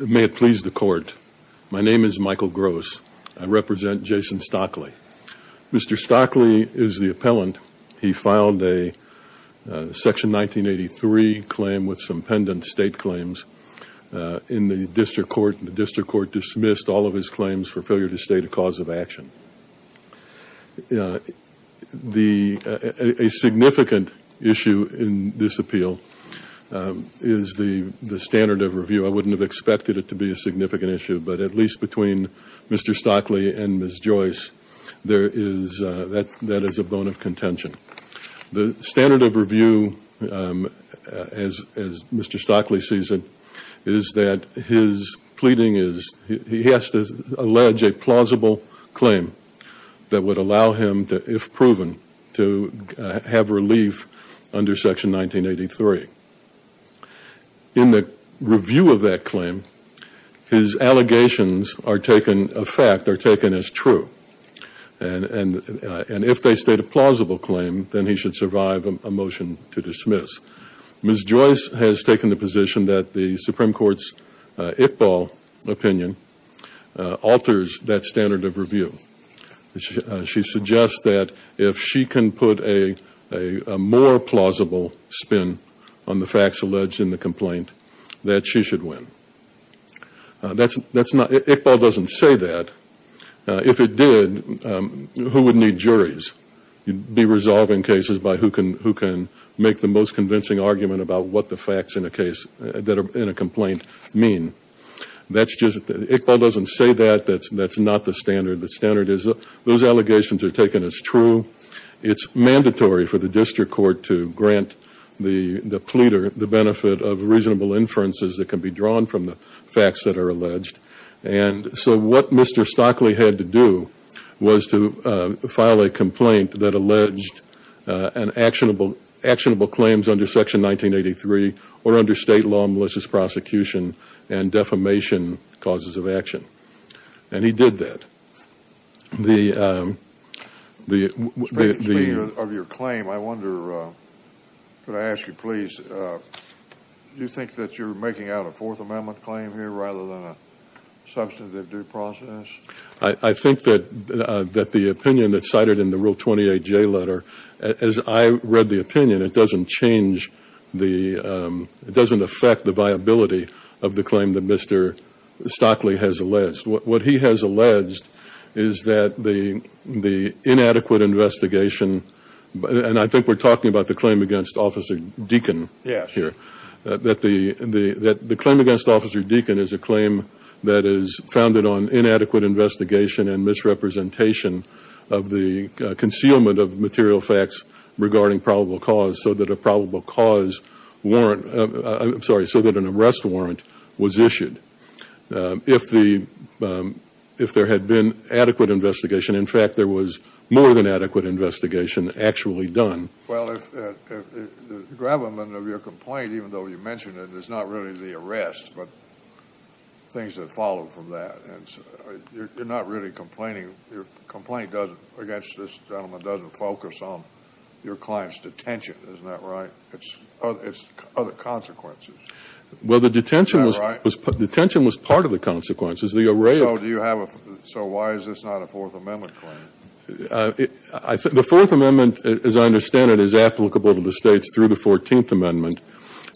May it please the court. My name is Michael Gross. I represent Jason Stockley. Mr. Stockley is the appellant. He filed a section 1983 claim with some pendent state claims in the district court. The district court dismissed all of his claims for failure to state a cause of action. A significant issue in this appeal is the standard of review. I wouldn't have expected it to be a significant issue, but at least between Mr. Stockley and Ms. Joyce there is, that is a bone of contention. The standard of review as Mr. Stockley sees it is that his pleading is, he has to allege a plausible claim that would allow him to, if proven, to have relief under section 1983. In the review of that claim, his allegations are taken, a fact, are taken as true. And if they state a plausible claim, then he should survive a motion to dismiss. Ms. Joyce has taken the position that the Supreme Court's Iqbal opinion alters that standard of review. She suggests that if she can put a more plausible spin on the facts alleged in the complaint, that she should win. That's not, Iqbal doesn't say that. If it did, who would need juries? You'd be resolving cases by who can make the most convincing argument about what the facts in a case, in a complaint mean. That's just, Iqbal doesn't say that. That's not the standard. The standard is those allegations are taken as true. It's mandatory for the district court to grant the pleader the benefit of reasonable inferences that can be drawn from the facts that are alleged. And so what Mr. Stockley had to do was to file a complaint that alleged actionable claims under section 1983 or under state law and malicious prosecution and defamation causes of action. And he did that. Speaking of your claim, I wonder, could I ask you please, do you think that you're making out a Fourth Amendment claim here rather than a substantive due process? I think that the opinion that's cited in the Rule 28J letter, as I read the opinion, it doesn't change the, it doesn't affect the viability of the claim that Mr. Stockley has alleged. What he has alleged is that the inadequate investigation, and I think we're talking about the claim against Officer Deacon here, that the claim against Officer Deacon is a claim that is founded on inadequate investigation and misrepresentation of the concealment of material facts regarding probable cause so that a probable cause warrant, I'm sorry, so that an arrest warrant was issued. If there had been adequate investigation, in fact, there was more than adequate investigation actually done. Well, the gravamen of your complaint, even though you mentioned it, is not really the arrest, but things that followed from that. You're not really complaining. Your complaint against this gentleman doesn't focus on your client's detention, isn't that right? It's other consequences. Well, the detention was part of the consequences. So why is this not a Fourth Amendment claim? The Fourth Amendment, as I understand it, is applicable to the States through the Fourteenth Amendment.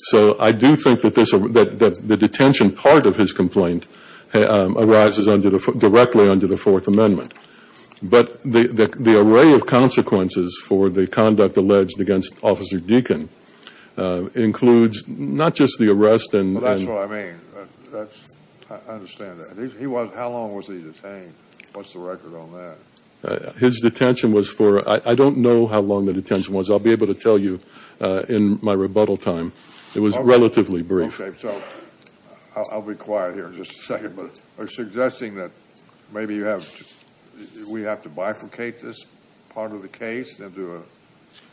So I do think that the detention part of his complaint arises directly under the Fourth Amendment. But the array of consequences for the conduct alleged against Officer Deacon includes not just the arrest and... That's what I mean. I understand that. How long was he detained? What's the record on that? His detention was for... I don't know how long the detention was. I'll be able to tell you in my rebuttal time. It was relatively brief. Okay, so I'll be quiet here in just a second, but you're suggesting that maybe we have to bifurcate this part of the case into a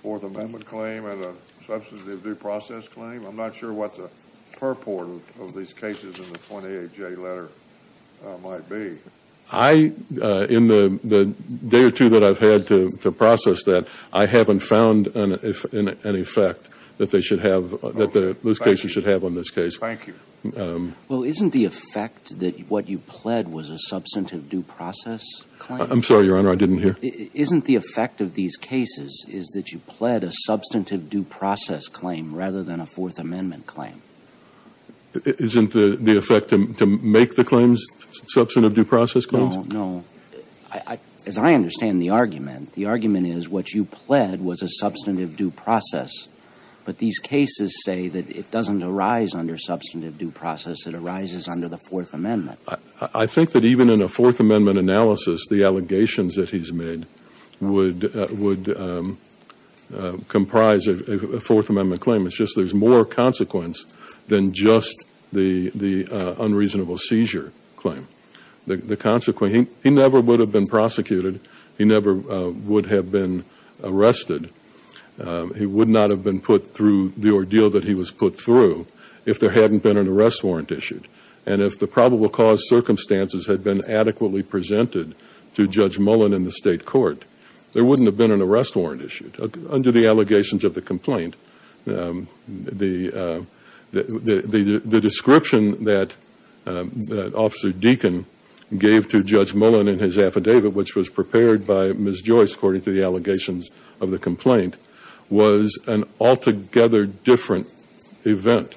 Fourth Amendment claim and a substantive due process claim. I'm not sure what the purport of these cases in the 28-J letter might be. In the day or two that I've had to process that, I haven't found an effect that those cases should have on this case. Thank you. Well, isn't the effect that what you pled was a substantive due process claim? I'm sorry, Your Honor, I didn't hear. Isn't the effect of these cases is that you pled a substantive due process claim rather than a Fourth Amendment claim? Isn't the effect to make the claims substantive due process claims? No, no. As I understand the argument, the argument is what you pled was a substantive due process, but these cases say that it doesn't arise under substantive due process. It arises under the Fourth Amendment. I think that even in a Fourth Amendment analysis, the allegations that he's made would comprise a Fourth Amendment claim. It's just there's more consequence than just the unreasonable seizure claim. The consequence, he never would have been prosecuted. He never would have been arrested. He would not have been put through the ordeal that he was put through if there hadn't been an arrest warrant issued. And if the probable cause circumstances had been adequately presented to Judge Mullen in the State Court, there wouldn't have been an arrest warrant issued under the allegations of the complaint. The description that Officer Deacon gave to Judge Mullen in his affidavit, which was prepared by Ms. Joyce according to the allegations of the complaint, was an altogether different event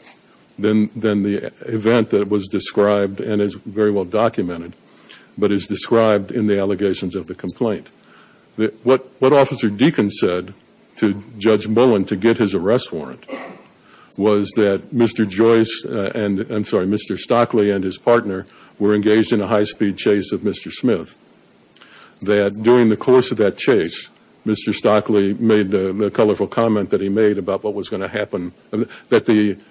than the event that was described and is very well documented, but is described in the allegations of the complaint. What Officer Deacon said to Judge Mullen to get his arrest warrant was that Mr. Joyce and I'm sorry, Mr. Stockley and his partner were engaged in a high-speed chase of Mr. Smith. That during the course of that chase, Mr. Stockley made the colorful comment that he made about what was going to happen, that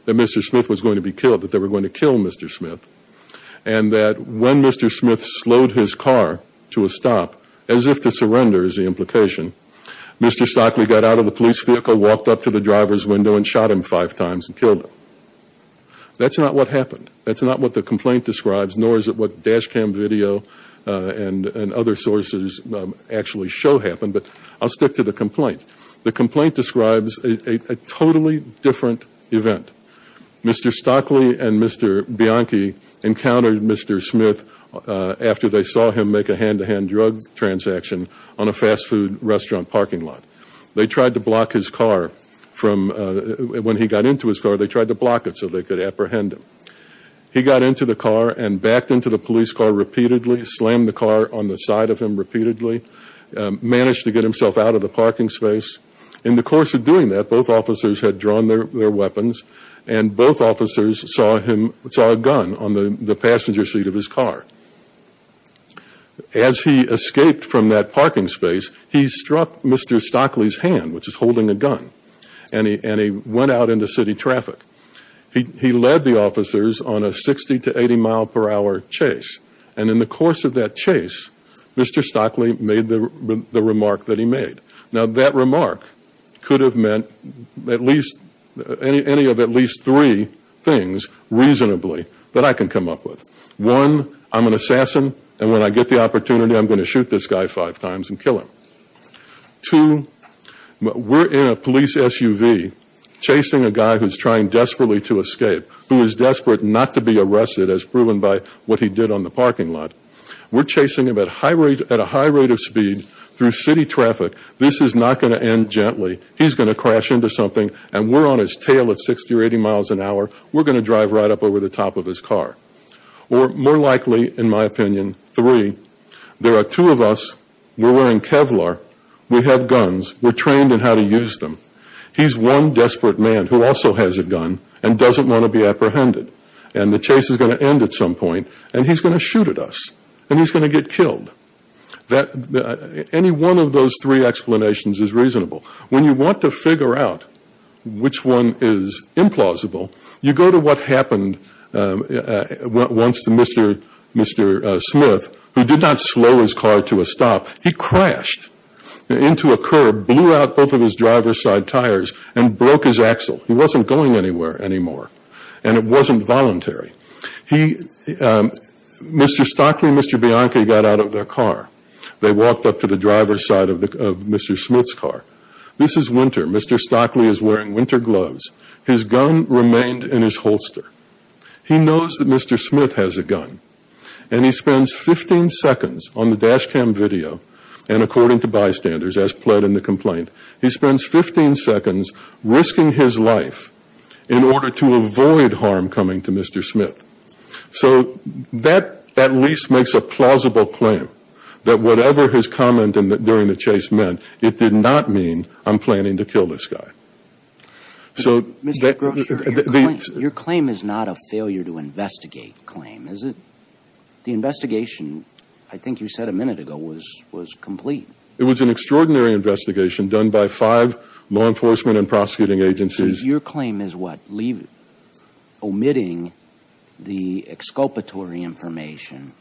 Mr. Smith was going to be killed, that they were going to kill Mr. Smith. And that when Mr. Smith slowed his car to a stop, as if to surrender is the implication, Mr. Stockley got out of the police vehicle, walked up to the driver's window and shot him five times and killed him. That's not what happened. That's not what the complaint describes, nor is it what dash cam video and other sources actually show happened, but I'll stick to the complaint. The complaint describes a totally different event. Mr. Stockley and Mr. Bianchi encountered Mr. Smith after they saw him make a hand-to-hand drug transaction on a fast food restaurant parking lot. They tried to block his car from, when he got into his car, they tried to block it so they could apprehend him. He got into the car and backed into the police car repeatedly, slammed the car on the side of him repeatedly, managed to get himself out of the parking space. In the course of doing that, both officers had drawn their weapons and both officers saw a gun on the passenger seat of his car. As he escaped from that parking space, he struck Mr. Stockley's hand, which is holding a gun, and he went out into city traffic. He led the officers on a 60 to 80 mile per hour chase. And in the course of that chase, Mr. Stockley made the remark that he made. Now that remark could have meant any of at least three things reasonably that I can come up with. One, I'm an assassin and when I get the opportunity I'm going to do it. We're in a police SUV chasing a guy who's trying desperately to escape, who is desperate not to be arrested as proven by what he did on the parking lot. We're chasing him at a high rate of speed through city traffic. This is not going to end gently. He's going to crash into something and we're on his tail at 60 or 80 miles an hour. We're going to drive right up over the top of his car. Or more likely, in my opinion, three, there are two of us, we're wearing Kevlar, we have guns, we're trained in how to use them. He's one desperate man who also has a gun and doesn't want to be apprehended. And the chase is going to end at some point and he's going to shoot at us and he's going to get killed. Any one of those three explanations is reasonable. When you want to figure out which one is implausible, you go to what happened once to Mr. Smith, who did not slow his car to a stop. He crashed into a curb, blew out both of his driver's side tires and broke his axle. He wasn't going anywhere anymore and it wasn't voluntary. Mr. Stockley and Mr. Bianchi got out of their car. They walked up to the driver's side of Mr. Smith's car. This is winter. Mr. Stockley is wearing winter gloves. His gun remained in his holster. He knows that Mr. Smith has a gun and he spends 15 seconds on the dash cam video, and according to bystanders, as pled in the complaint, he spends 15 seconds risking his life in order to avoid harm coming to Mr. Smith. So that at least makes a plausible claim that whatever his comment during the investigation was not a failure. Your claim is not a failure to investigate claim, is it? The investigation, I think you said a minute ago, was complete. It was an extraordinary investigation done by five law enforcement and prosecuting agencies. Your claim is what? Omitting the exculpatory information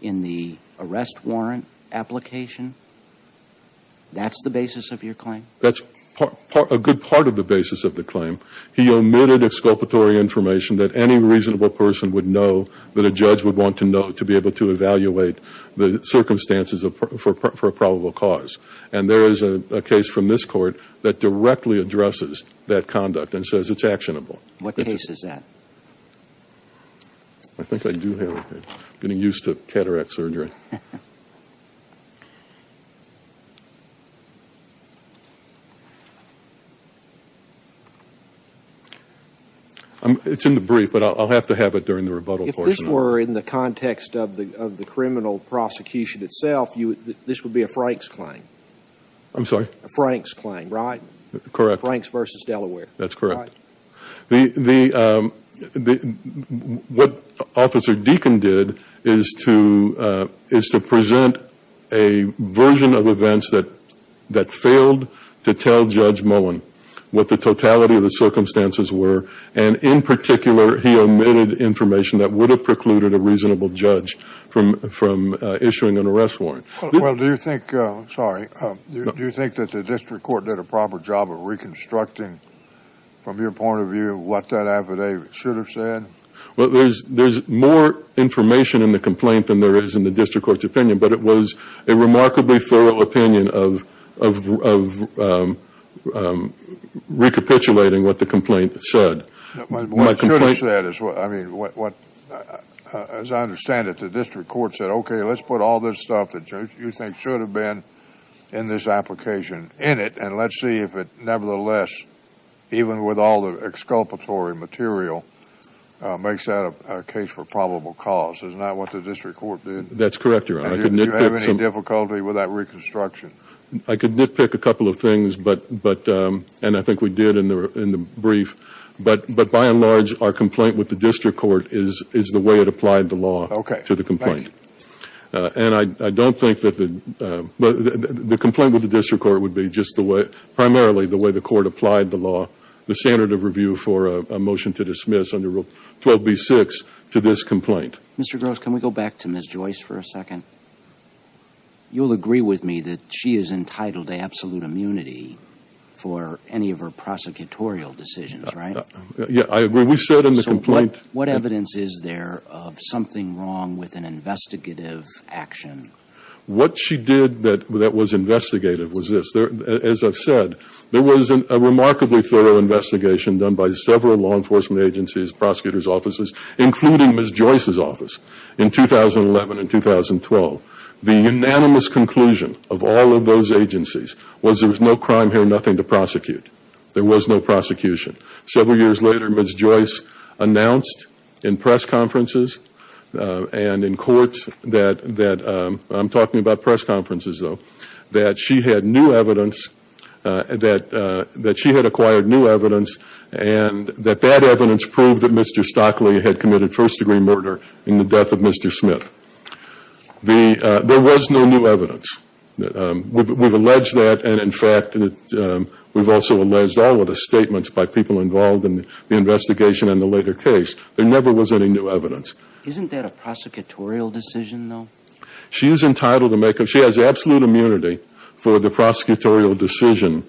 in the arrest warrant application? That's the basis of your claim? That's a good part of the basis of the claim. He omitted exculpatory information that any reasonable person would know, that a judge would want to know to be able to evaluate the circumstances for a probable cause. And there is a case from this court that directly addresses that conduct and says it's actionable. What case is that? I think I do have it. I'm getting used to cataract surgery. It's in the brief, but I'll have to have it during the rebuttal portion. If this were in the context of the criminal prosecution itself, this would be a Franks claim. I'm sorry? A Franks claim, right? Correct. Franks v. Delaware. That's correct. What Officer Deacon did is to present a version of events that failed to tell Judge Mullen what the totality of the circumstances were, and in particular he omitted information that would have precluded a reasonable judge from issuing an arrest warrant. Well, do you think, sorry, do you think that the district court did a proper job of reconstructing from your point of view what that affidavit should have said? There's more information in the complaint than there is in the district court's opinion, but it was a remarkably thorough opinion of recapitulating what the complaint said. What it should have said, as I understand it, the district court said, okay, let's put all this stuff that you think should have been in this application in it, and let's see if it nevertheless, even with all the exculpatory material, makes that a case for probable cause. Is that what the district court did? That's correct, Your Honor. Do you have any difficulty with that reconstruction? I could nitpick a couple of things, and I think we did in the brief, but by and large our complaint with the district court is the way it applied the law to the complaint. And I don't think that the, the complaint with the district court would be just the way, primarily the way the court applied the law, the standard of review for a motion to dismiss under Rule 12b-6 to this complaint. Mr. Gross, can we go back to Ms. Joyce for a second? You'll agree with me that she is entitled to absolute immunity for any of her prosecutorial decisions, right? Yeah, I agree. We said in the complaint... What evidence is there of something wrong with an investigative action? What she did that was investigative was this. As I've said, there was a remarkably thorough investigation done by several law enforcement agencies, prosecutors' offices, including Ms. Joyce's office in 2011 and 2012. The unanimous conclusion of all of those agencies was there was no crime here, nothing to prosecute. There was no prosecution. Several years later, Ms. Joyce announced in press conferences and in courts that, I'm talking about press conferences, though, that she had new evidence, that she had acquired new evidence, and that that evidence proved that Mr. Stockley had committed first-degree murder in the death of Mr. Smith. There was no new evidence. We've alleged that, and, in fact, we've also alleged all of the statements by people involved in the investigation in the later case. There never was any new evidence. Isn't that a prosecutorial decision, though? She's entitled to make... She has absolute immunity for the prosecutorial decision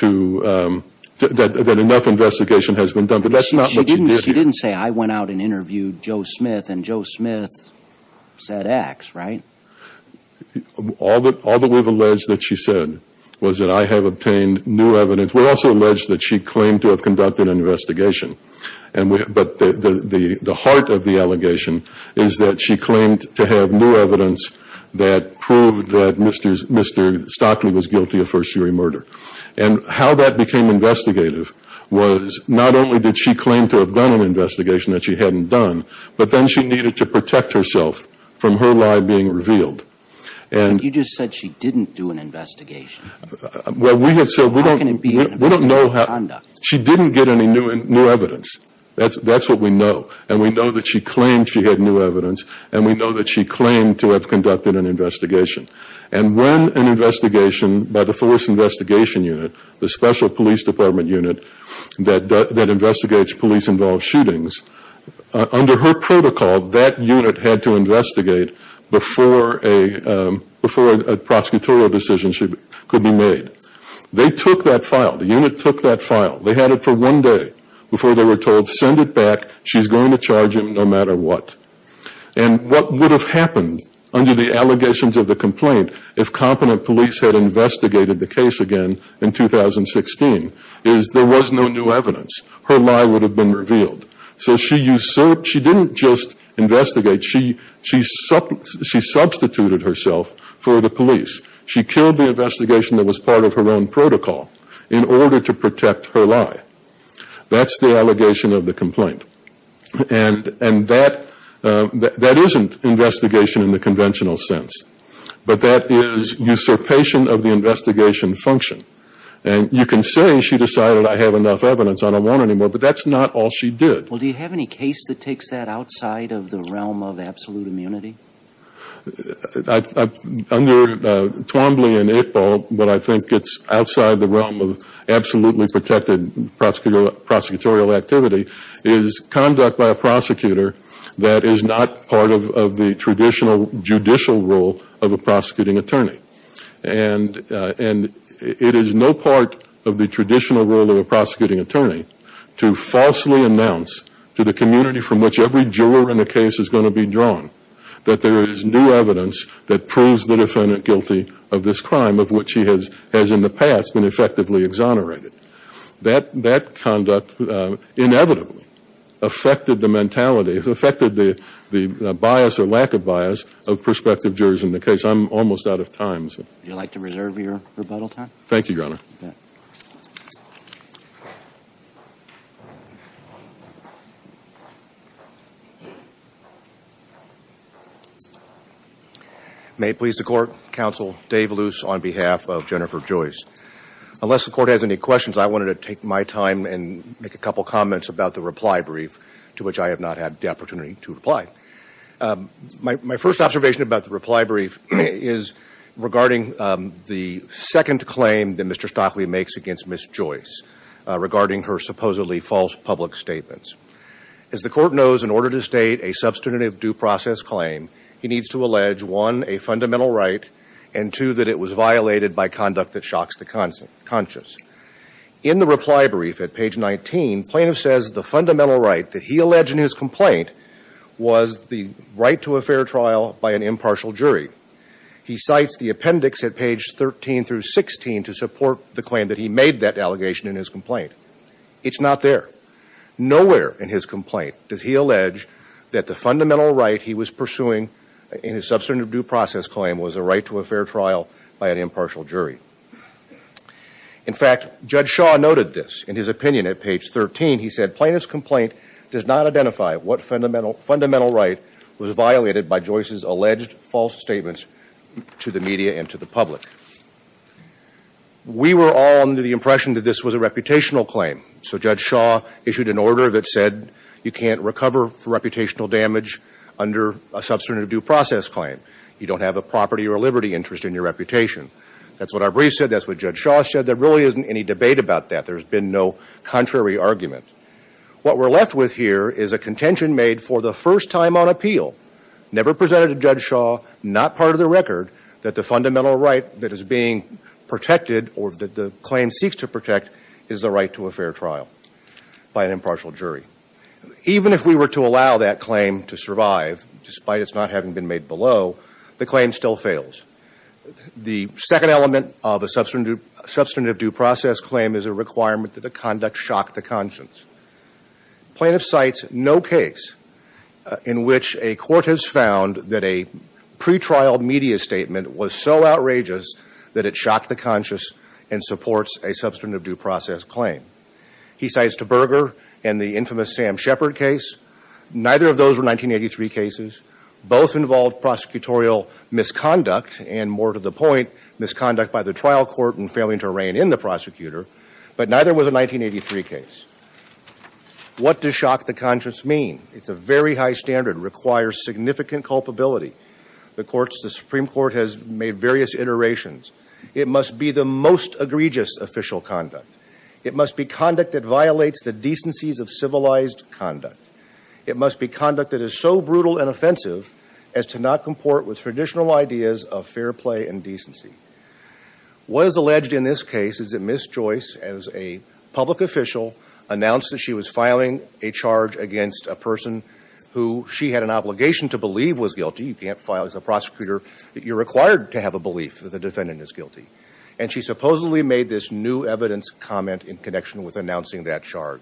that enough investigation has been done, but that's not what she did. She didn't say, I went out and interviewed Joe Smith, and Joe Smith said X, right? All that we've alleged that she said was that I have obtained new evidence. We also allege that she claimed to have conducted an investigation, but the heart of the allegation is that she claimed to have new evidence that proved that Mr. Stockley was guilty of first-degree murder. And how that became investigative was, not only did she claim to have done an investigation that she hadn't done, but then she needed to protect herself from her lie being revealed. You just said she didn't do an investigation. Well, we have said, we don't know how, she didn't get any new evidence. That's what we know that she claimed to have conducted an investigation. And when an investigation by the Forest Investigation Unit, the special police department unit that investigates police-involved shootings, under her protocol, that unit had to investigate before a prosecutorial decision could be made. They took that file. The unit took that file. They had it for one day before they were told, send it back, she's going to charge him no matter what. And what would have happened under the allegations of the complaint if competent police had investigated the case again in 2016 is there was no new evidence. Her lie would have been revealed. So she didn't just investigate, she substituted herself for the police. She killed the investigation that was part of her own protocol in order to protect her lie. That's the allegation of the complaint. And that isn't investigation in the conventional sense. But that is usurpation of the investigation function. And you can say she decided, I have enough evidence, I don't want any more, but that's not all she did. Well, do you have any case that takes that outside of the realm of absolute immunity? Under Twombly and Ippol, but I think it's outside the realm of absolutely protected prosecutorial activity, is conduct by a prosecutor that is not part of the traditional judicial role of a prosecuting attorney. And it is no part of the traditional role of a prosecuting attorney to falsely announce to the community from which every juror in a case is going to be drawn that there is new evidence that proves the defendant guilty of this crime of which he has in the past been effectively exonerated. That conduct inevitably affected the mentality, affected the bias or lack of bias of prospective jurors in the case. I'm almost out of time. Would you like to reserve your rebuttal time? Thank you, Your Honor. May it please the Court, Counsel Dave Luce on behalf of Jennifer Joyce. Unless the Court has any questions, I wanted to take my time and make a couple comments about the reply brief to which I have not had the opportunity to reply. My first observation about the reply brief is regarding the second claim that Mr. Stockley makes against Ms. Joyce regarding her supposedly false public statements. As the Court knows, in order to state a substantive due process claim, he needs to allege, one, a fundamental right, and two, that it was violated by conduct that shocks the conscience. In the reply brief at page 19, plaintiff says the fundamental right that he alleged in his complaint was the right to a fair trial by an impartial jury. He cites the appendix at page 13 through 16 to support the claim that he made that allegation in his complaint. It's not there. Nowhere in his complaint does he allege that the fundamental right he was pursuing in his substantive due process claim was a right to a fair trial by an impartial jury. In fact, Judge Shaw noted this in his opinion at page 13. He said, plaintiff's complaint does not identify what fundamental right was that he alleged false statements to the media and to the public. We were all under the impression that this was a reputational claim. So Judge Shaw issued an order that said you can't recover for reputational damage under a substantive due process claim. You don't have a property or a liberty interest in your reputation. That's what our brief said. That's what Judge Shaw said. There really isn't any debate about that. There's been no contrary argument. What we're left with here is a contention made for the first time on appeal. Never presented to Judge Shaw, not part of the record, that the fundamental right that is being protected or that the claim seeks to protect is the right to a fair trial by an impartial jury. Even if we were to allow that claim to survive, despite its not having been made below, the claim still fails. The second element of a substantive due process claim is a requirement that the conduct shock the conscience. Plaintiff cites no case in which a court has found that a pre-trial media statement was so outrageous that it shocked the conscience and supports a substantive due process claim. He cites Taberger and the infamous Sam Shepard case. Neither of those were 1983 cases. Both involved prosecutorial misconduct and more to the point misconduct by the trial court and failing to rein in the prosecutor. But neither was a 1983 case. What does shock the conscience mean? It's a very high standard, requires significant culpability. The Supreme Court has made various iterations. It must be the most egregious official conduct. It must be conduct that violates the decencies of civilized conduct. It must be conduct that is so brutal and offensive as to not comport with traditional ideas of fair play and decency. What is alleged in this case is that Ms. Joyce, as a public official, announced that she was filing a charge against a person who she had an obligation to believe was guilty. You can't file as a prosecutor. You're required to have a belief that the defendant is guilty. And she supposedly made this new evidence comment in connection with announcing that charge.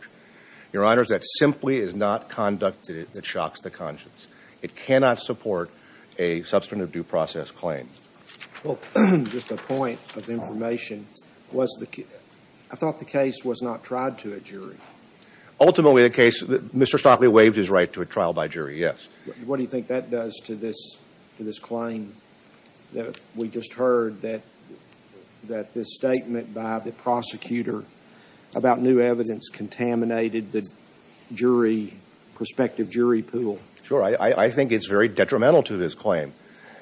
Your Honors, that simply is not conduct that shocks the conscience. It cannot support a substantive due process claim. Well, just a point of information. I thought the case was not tried to a jury. Ultimately, the case, Mr. Stockley waived his right to a trial by jury, yes. What do you think that does to this claim that we just heard that this statement by the prosecutor about new evidence contaminated the jury, prospective jury pool? Sure. I think it's very detrimental to this claim.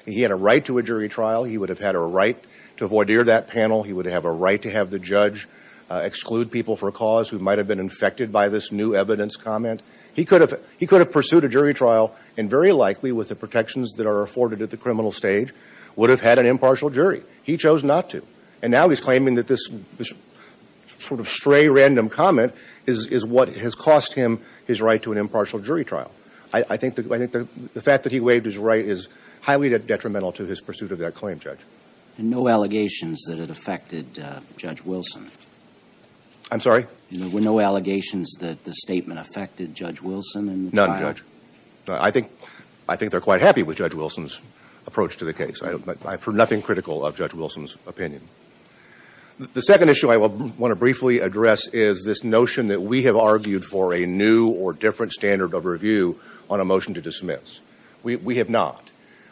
He had a right to a jury trial. He would have had a right to voir dire that panel. He would have a right to have the judge exclude people for a cause who might have been infected by this new evidence comment. He could have pursued a jury trial and very likely with the protections that are afforded at the criminal stage would have had an impartial jury. He chose not to. And now he's claiming that this sort of stray random comment is what has cost him his right to an impartial jury trial. I think the fact that he waived his right is highly detrimental to his pursuit of that claim, Judge. No allegations that it affected Judge Wilson? I'm sorry? No allegations that the statement affected Judge Wilson in the trial? None, Judge. I think they're quite happy with Judge Wilson's approach to the case. I'm for nothing critical of Judge Wilson's opinion. The second issue I want to briefly address is this notion that we have argued for a new or different standard of review on a motion to dismiss. We have not.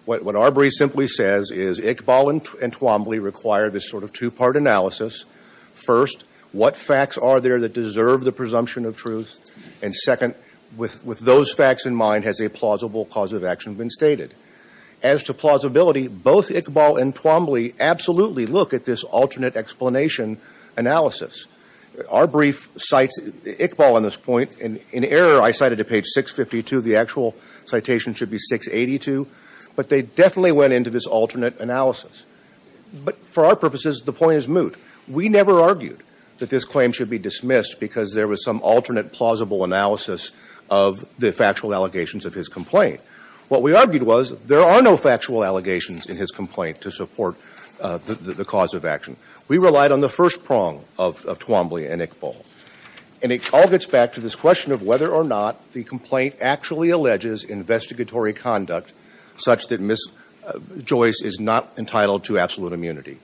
What our brief simply says is Iqbal and Twombly require this sort of two-part analysis. First, what facts are there that deserve the presumption of truth? And second, with those facts in mind, has a plausible cause of action been stated? As to plausibility, both Iqbal and Twombly absolutely look at this alternate explanation analysis. Our brief cites Iqbal on this point. In error, I cited to page 652. The actual citation should be 682. But they definitely went into this alternate analysis. But for our purposes, the point is moot. We never argued that this claim should be dismissed because there was some alternate plausible analysis of the factual allegations of his complaint. What we argued was there are no factual allegations in his complaint to support the cause of action. We relied on the first prong of Twombly and Iqbal. And it all gets back to this question of whether or not the complaint actually alleges investigatory conduct such that Ms. Joyce is not entitled to absolute immunity.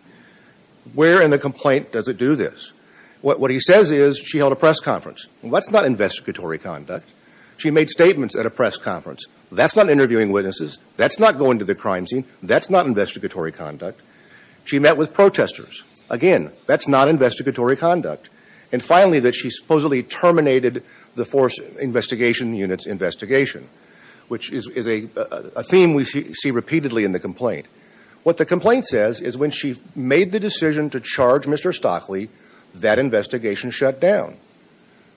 Where in the complaint does it do this? What he says is she held a press conference. Well, that's not investigatory conduct. She made statements at a press conference. That's not interviewing witnesses. That's not going to the crime scene. That's not investigatory conduct. She met with protesters. Again, that's not investigatory conduct. And finally, that she supposedly terminated the force investigation unit's investigation, which is a theme we see repeatedly in the complaint. What the complaint says is when she made the decision to charge Mr. Stockley, that investigation shut down.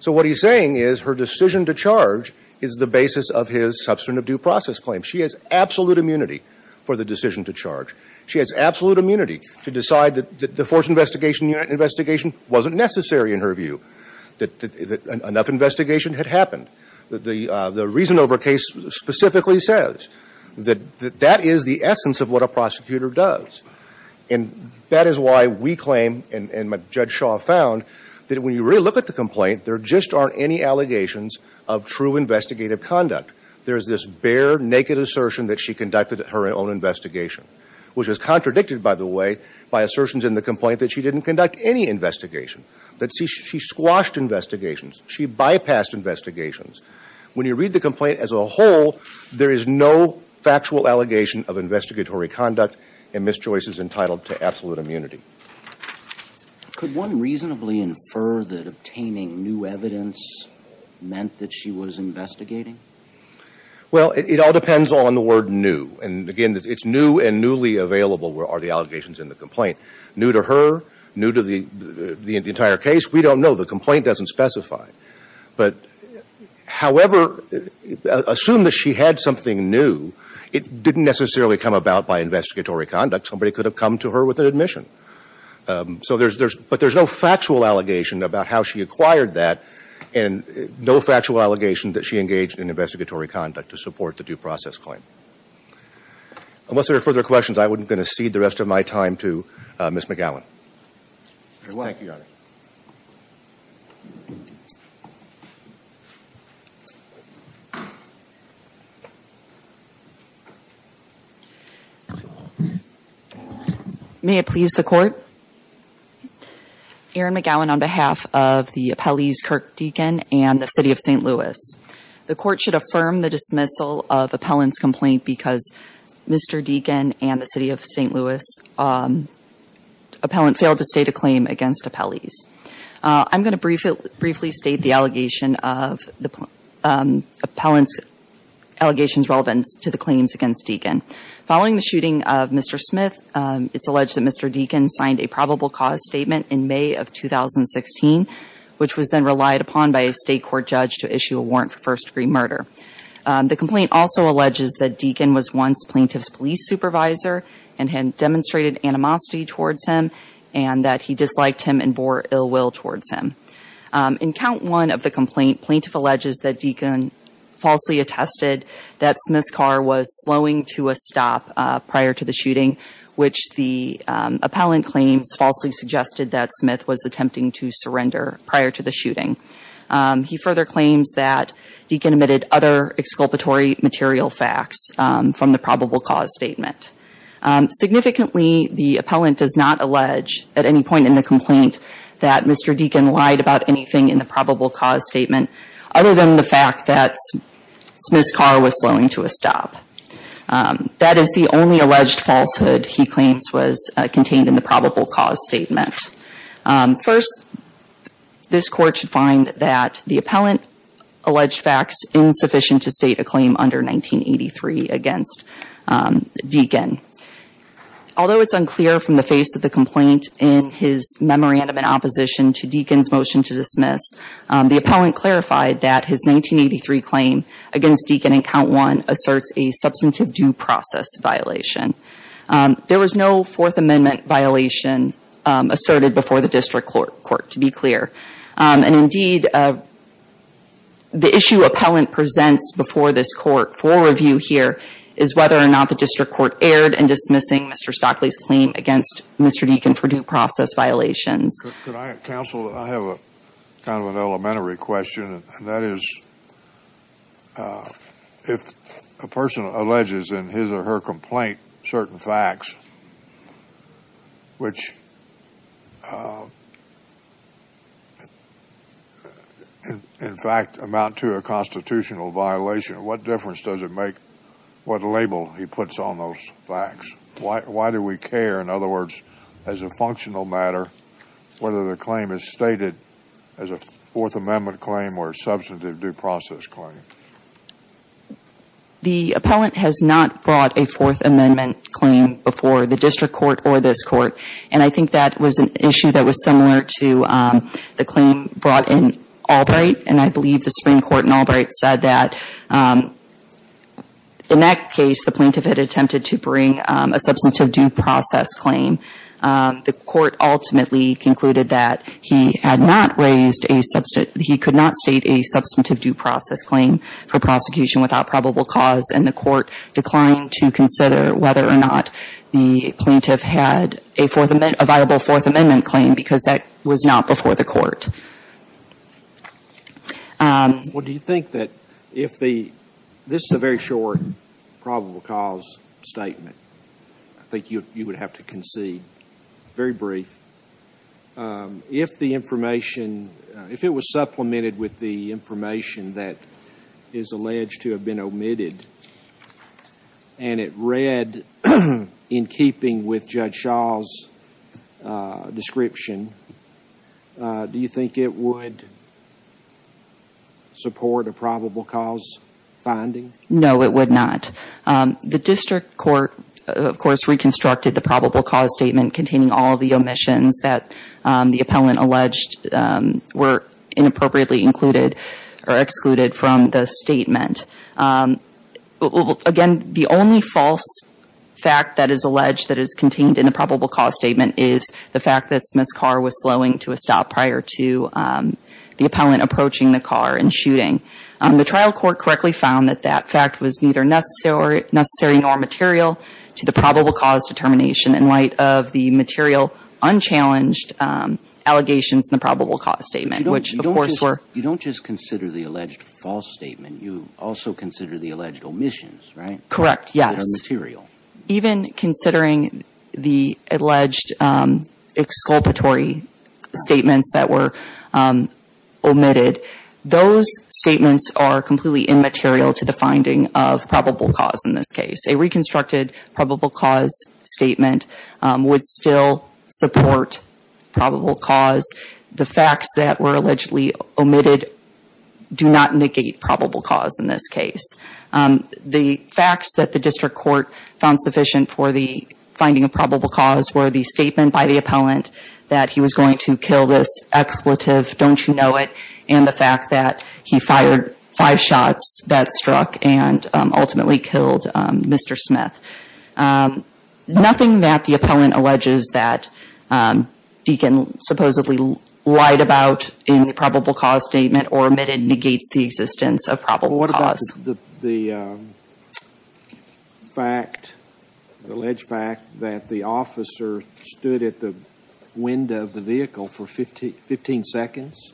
So what he's saying is her decision to charge is the basis of his substance of due process claim. She has absolute immunity for the decision to charge. She has absolute immunity to decide that the force investigation unit investigation wasn't necessary in her view, that enough investigation had happened, that the reason over case specifically says that that is the essence of what a prosecutor does. And that is why we claim, and Judge Shaw found, that when you really look at the complaint, there just aren't any allegations of true investigative conduct. There's this bare, naked assertion that she conducted her own investigation, which is contradicted, by the way, by assertions in the complaint that she didn't conduct any investigation, that she squashed investigations. She bypassed investigations. When you read the complaint as a whole, there is no factual allegation of investigatory conduct and mischoices entitled to absolute immunity. Could one reasonably infer that obtaining new evidence meant that she was investigating? Well, it all depends on the word new. And again, it's new and newly available are the allegations in the complaint. New to her, new to the entire case, we don't know. The complaint doesn't specify. But however, assume that she had something new, it didn't necessarily come about by investigatory conduct. Somebody could have come to her with an admission. But there's no factual allegation about how she acquired that and no factual allegation that she engaged in investigatory conduct to support the due process claim. Unless there are further questions, I'm going to cede the rest of my time to Ms. McGowan. May it please the Court. Erin McGowan on behalf of the appellees Kirk Deacon and the City of St. Louis. The Court should affirm the dismissal of Appellant's complaint because Mr. Deacon and the City of St. Louis appellant failed to state a claim against appellees. I'm going to briefly state the allegations relevant to the claims against Deacon. Following the shooting of Mr. Smith, it's alleged that Mr. Deacon signed a probable cause statement in May of 2016, which was then relied upon by a state court judge to issue a warrant for first degree murder. The complaint also alleges that Deacon was once plaintiff's police supervisor and had demonstrated animosity towards him and that he disliked him and bore ill will towards him. In count one of the complaint, plaintiff alleges that Deacon falsely attested that Smith's car was slowing to a stop prior to the shooting, which the appellant claims falsely suggested that Smith was attempting to surrender prior to the shooting. He further claims that Deacon admitted other exculpatory material facts from the probable cause statement. Significantly, the appellant does not allege at any point in the complaint that Mr. Deacon lied about anything in the probable cause statement other than the fact that Smith's car was slowing to a stop. That is the only alleged falsehood he claims was contained in the probable cause statement. First, this court should find that the appellant alleged facts insufficient to state a claim under 1983 against Deacon. Although it's unclear from the face of the complaint in his memorandum in opposition to Deacon's motion to dismiss, the appellant clarified that his 1983 claim against Deacon in count one asserts a substantive due process violation. There was no fourth amendment violation asserted before the district court to be clear, and indeed the issue appellant presents before this court for review here is whether or not the district court erred in dismissing Mr. Stockley's Mr. Deacon for due process violations. Could I counsel that I have a kind of an elementary question, and that is if a person alleges in his or her complaint certain facts which in fact amount to a constitutional violation, what difference does it make what label he puts on those facts? Why do we care, in other words, as a functional matter, whether the claim is stated as a fourth amendment claim or substantive due process claim? The appellant has not brought a fourth amendment claim before the district court or this court, and I think that was an issue that was similar to the claim brought in Albright, and I believe the Supreme Court in Albright said that in that case the plaintiff had attempted to bring a substantive due process claim. The court ultimately concluded that he had not raised a substantive, he could not state a substantive due process claim for prosecution without probable cause, and the court declined to consider whether or not the plaintiff had a fourth, a viable fourth amendment claim because that was not before the court. Well, do you think that if the, this is a very short probable cause statement, I think you would have to concede, very brief. If the information, if it was supplemented with the information that is alleged to have been omitted and it read in keeping with Judge Shaw's description, do you think it would support a probable cause finding? No, it would not. The district court, of course, reconstructed the probable cause statement containing all of the omissions that the appellant alleged were inappropriately included or excluded from the statement. Again, the only false fact that is alleged that is contained in the probable cause statement is the fact that Smith's car was slowing to a stop prior to the appellant approaching the car and shooting. The trial court correctly found that that fact was neither necessary nor material to the probable cause determination in light of the material unchallenged allegations in the probable cause statement, which of course were. You don't just consider the alleged false statement, you also consider the alleged omissions, right? Correct, yes. That are material. Even considering the alleged exculpatory statements that were omitted, those statements are completely immaterial to the finding of probable cause in this case. A reconstructed probable cause statement would still support probable cause. The facts that were allegedly found sufficient for the finding of probable cause were the statement by the appellant that he was going to kill this expletive, don't you know it, and the fact that he fired five shots that struck and ultimately killed Mr. Smith. Nothing that the appellant alleges that Deakin supposedly lied about in the probable cause statement or omitted negates the existence of probable cause. The fact, the alleged fact that the officer stood at the window of the vehicle for 15 seconds?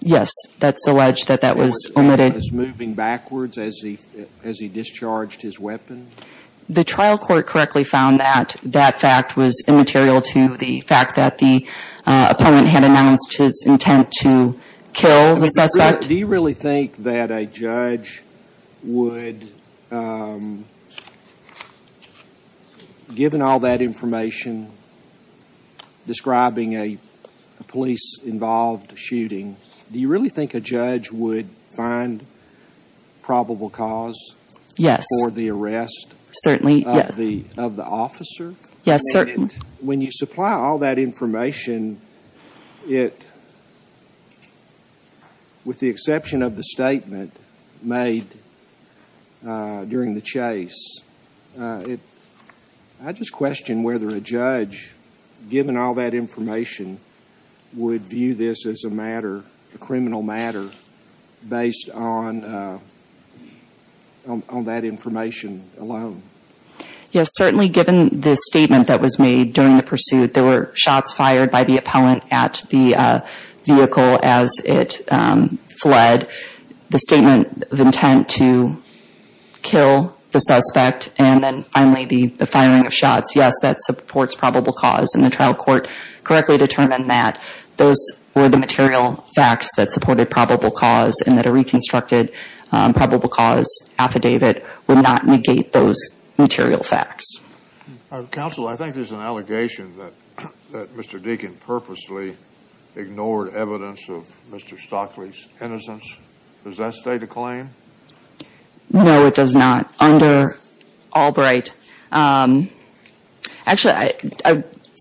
Yes, that's alleged that that was omitted. Was moving backwards as he discharged his weapon? The trial court correctly found that that fact was immaterial to the fact that the appellant had announced his intent to kill the suspect. Do you really think that a judge would, given all that information describing a police-involved shooting, do you really think a judge would find probable cause for the arrest of the officer? Yes, certainly. When you supply all that information, with the exception of the statement made during the chase, I just question whether a judge, given all that information, would view this as a matter, a criminal matter, based on that information alone. Yes, certainly given the statement that was made during the pursuit, there were shots fired by the appellant at the vehicle as it fled, the statement of intent to kill the suspect, and then finally the firing of shots. Yes, that supports probable cause, and the trial court correctly determined that those were the material facts that supported probable cause and that a reconstructed probable cause affidavit would not negate those material facts. Counsel, I think there's an allegation that Mr. Deakin purposely ignored evidence of Mr. Stockley's innocence. Does that stay the claim? No, it does not. Under Albright, actually,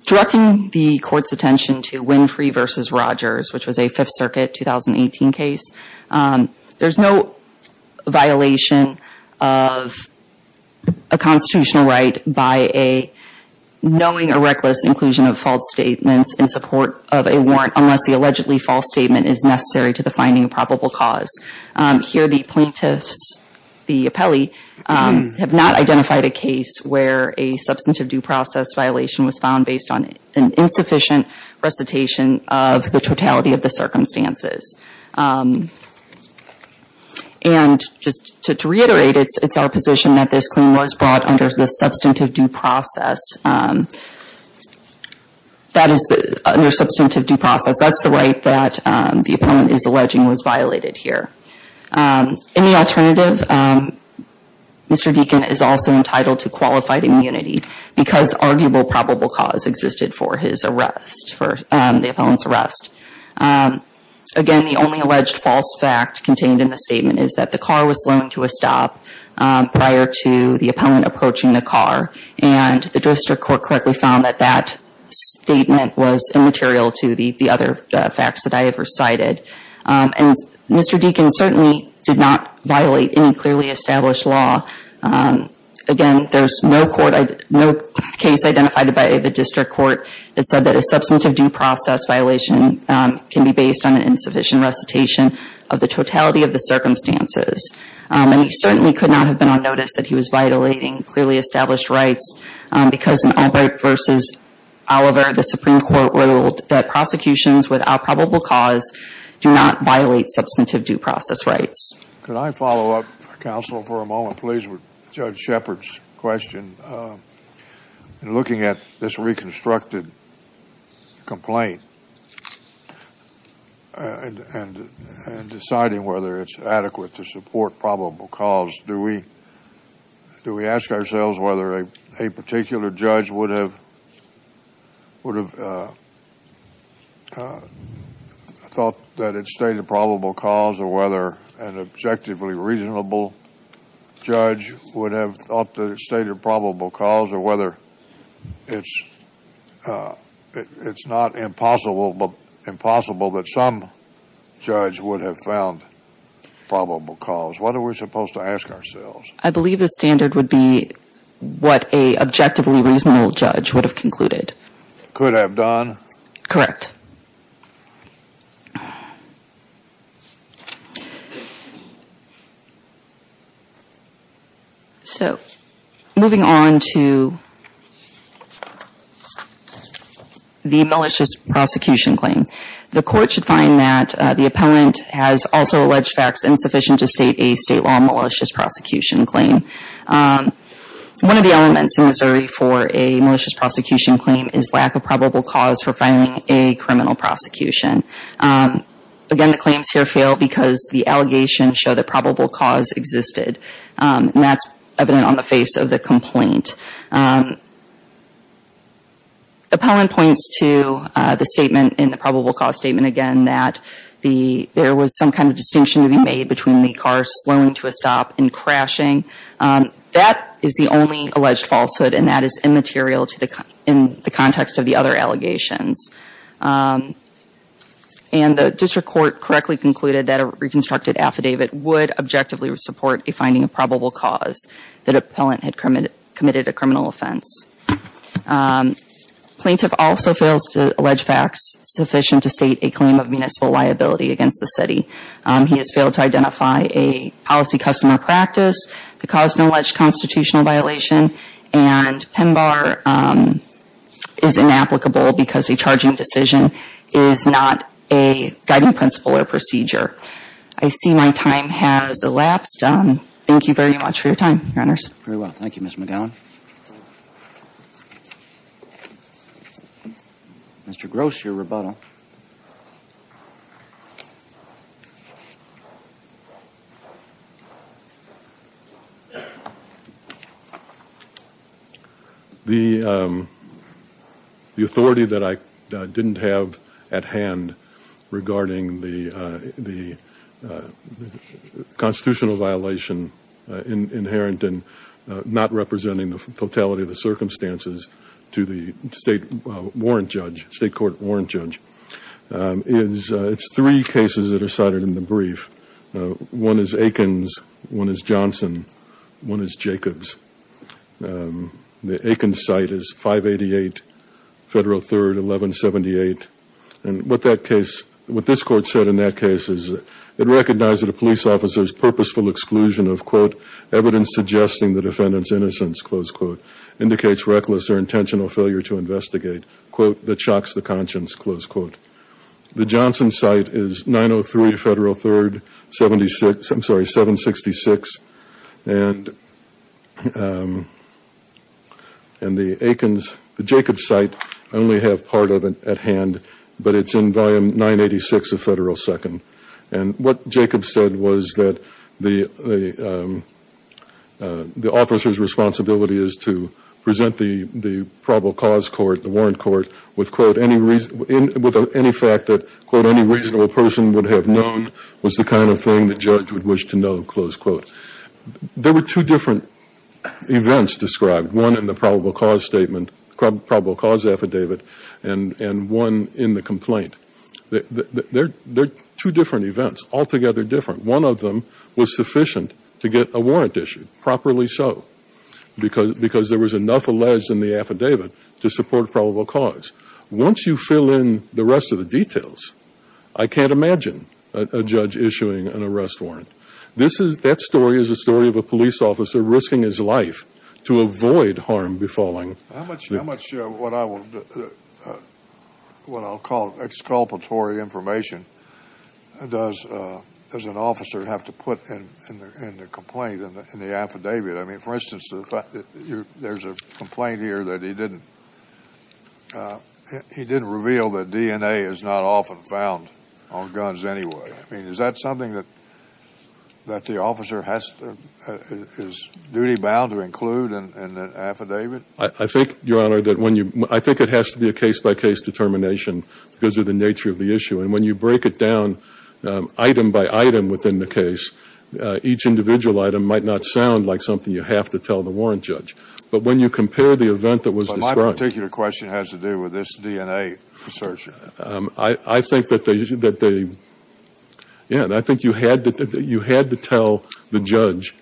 directing the court's attention to Winfrey v. Rogers, which was a Fifth Circuit 2018 case, there's no violation of a constitutional right by knowing a reckless inclusion of false statements in support of a warrant unless the allegedly false statement is necessary to the finding of probable cause. Here, the plaintiffs, the appellee, have not identified a case where a substantive due process violation was found based on an insufficient recitation of the totality of the circumstances. And just to reiterate, it's our position that this claim was brought under the substantive due process. That is, under substantive due process, that's the right that the appellant is alleging was violated here. In the alternative, Mr. Deakin is also entitled to qualified immunity because arguable probable cause existed for his arrest, for the appellant's arrest. Again, the only alleged false fact contained in the statement is that the car was slowing to a stop prior to the appellant approaching the car, and the district court correctly found that that statement was immaterial to the other facts that I have recited. And Mr. Deakin certainly did not violate any clearly established law. Again, there's no court, no case identified by the district court that said that a substantive due process violation can be based on an insufficient recitation of the totality of the circumstances. And he certainly could not have been on notice that he was violating clearly established rights because in Albrecht v. Oliver, the Supreme Court ruled that prosecutions without probable cause do not violate substantive due process rights. Could I follow up, counsel, for a moment, please, with Judge Shepard's question? Looking at this reconstructed complaint and deciding whether it's adequate to support probable cause, do we ask ourselves whether a particular judge would have thought that it stated probable cause or whether an objectively reasonable judge would have thought that it stated probable cause or whether it's not impossible but impossible that some judge would have found probable cause? What are we supposed to ask ourselves? I believe the standard would be what a objectively reasonable judge would have concluded. Could have done? Correct. Okay. So, moving on to the malicious prosecution claim. The court should find that the appellant has also alleged facts insufficient to state a state law malicious prosecution claim. One of the elements in Missouri for a malicious prosecution claim is lack of probable cause for filing a criminal prosecution. Again, the claims here fail because the allegations show that probable cause existed, and that's evident on the face of the complaint. Appellant points to the statement in the probable cause statement, again, that there was some kind of distinction to be made between the car slowing to a stop and crashing. That is the only alleged falsehood, and that is immaterial in the context of the other allegation. And the district court correctly concluded that a reconstructed affidavit would objectively support a finding of probable cause that appellant had committed a criminal offense. Plaintiff also fails to allege facts sufficient to state a claim of municipal liability against the city. He has failed to identify a policy customer practice that caused an alleged constitutional violation, and PEMBAR is inapplicable because a charging decision is not a guiding principle or procedure. I see my time has elapsed. Thank you very much for your time, Your Honors. Very well. Thank you, Ms. McGowan. Mr. Gross, your rebuttal. The authority that I didn't have at hand regarding the constitutional violation inherent in not representing the totality of the circumstances to the state warrant judge, state court warrant judge, it's three cases that are cited in the brief. One is Aikens. One is Johnson. One is Jacobs. The Aikens site is 588 Federal 3rd, 1178. And what that case, what this court said in that case is it recognized that a police officer's purposeful exclusion of, quote, evidence suggesting the defendant's innocence, close quote, indicates reckless or intentional failure to investigate, quote, that shocks the conscience, close quote. The Johnson site is 903 Federal 3rd 76, I'm sorry, 766. And the Aikens, the Jacobs site, I only have part of it at hand, but it's in volume 986 of Federal 2nd. And what Jacobs said was that the officer's responsibility is to present the probable cause court, the warrant court, with, quote, any reason, with any fact that, quote, any reasonable person would have known was the kind of thing the judge would wish to know, close quote. There were two different events described, one in the probable cause statement, probable cause affidavit, and one in the complaint. They're two different events, altogether different. One of them was sufficient to get a warrant issued, properly so, because there was enough alleged in the affidavit to support probable cause. Once you fill in the rest of the details, I can't imagine a judge issuing an arrest warrant. This is, that story is a story of a police officer risking his life to avoid harm be falling. How much, how much what I will, what I'll call exculpatory information does an officer have to put in the complaint, in the affidavit? I mean, for instance, the fact that there's a complaint here that he didn't, he didn't reveal that DNA is not often found on guns anyway. I mean, is that something that, that the officer has, is duty bound to include in an affidavit? I think, your honor, that when you, I think it has to be a case by case determination because of the nature of the issue. And when you break it down, item by item within the case, each individual item might not sound like something you have to tell the warrant judge. But when you compare the event that was described. But my particular question has to do with this DNA search. I, I think that they, that they, yeah, I think you had to, you had to tell the judge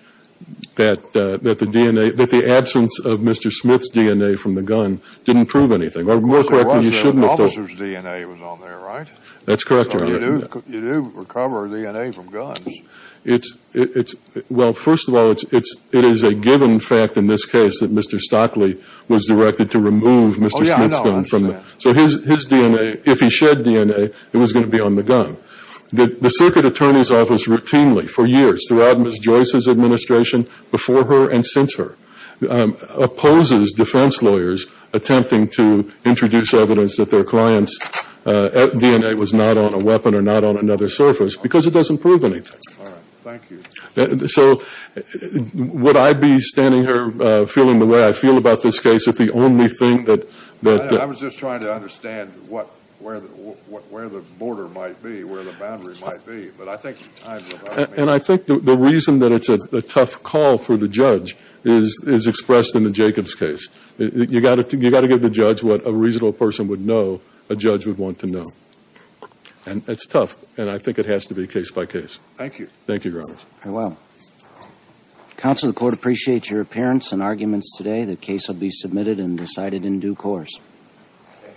that, that the DNA, that the absence of Mr. Smith's DNA from the gun didn't prove anything. Or more correctly, you shouldn't have told. The officer's DNA was on there, right? That's correct, your honor. You do recover DNA from guns. It's, it's, well, first of all, it's, it's, it is a given fact in this case that Mr. Stockley was directed to remove Mr. Smith's gun from the. So his, his DNA, if he shed DNA, it was going to be on the gun. The circuit attorney's office routinely, for years, throughout Ms. Joyce's administration, before her and since her, opposes defense lawyers attempting to introduce evidence that their client's DNA was not on a weapon or not on another surface because it doesn't prove anything. All right, thank you. So would I be standing here feeling the way I feel about this case if the only thing that, that. I was just trying to understand what, where, what, where the border might be, where the boundary might be, but I think. And I think the reason that it's a tough call for the judge is, is expressed in the Jacobs case. You got to, you got to give the judge what a reasonable person would know, a judge would want to know. And it's tough. And I think it has to be case by case. Thank you. Thank you, your honor. Very well. Counsel, the court appreciates your appearance and arguments today. The case will be submitted and decided in due course. Thank you.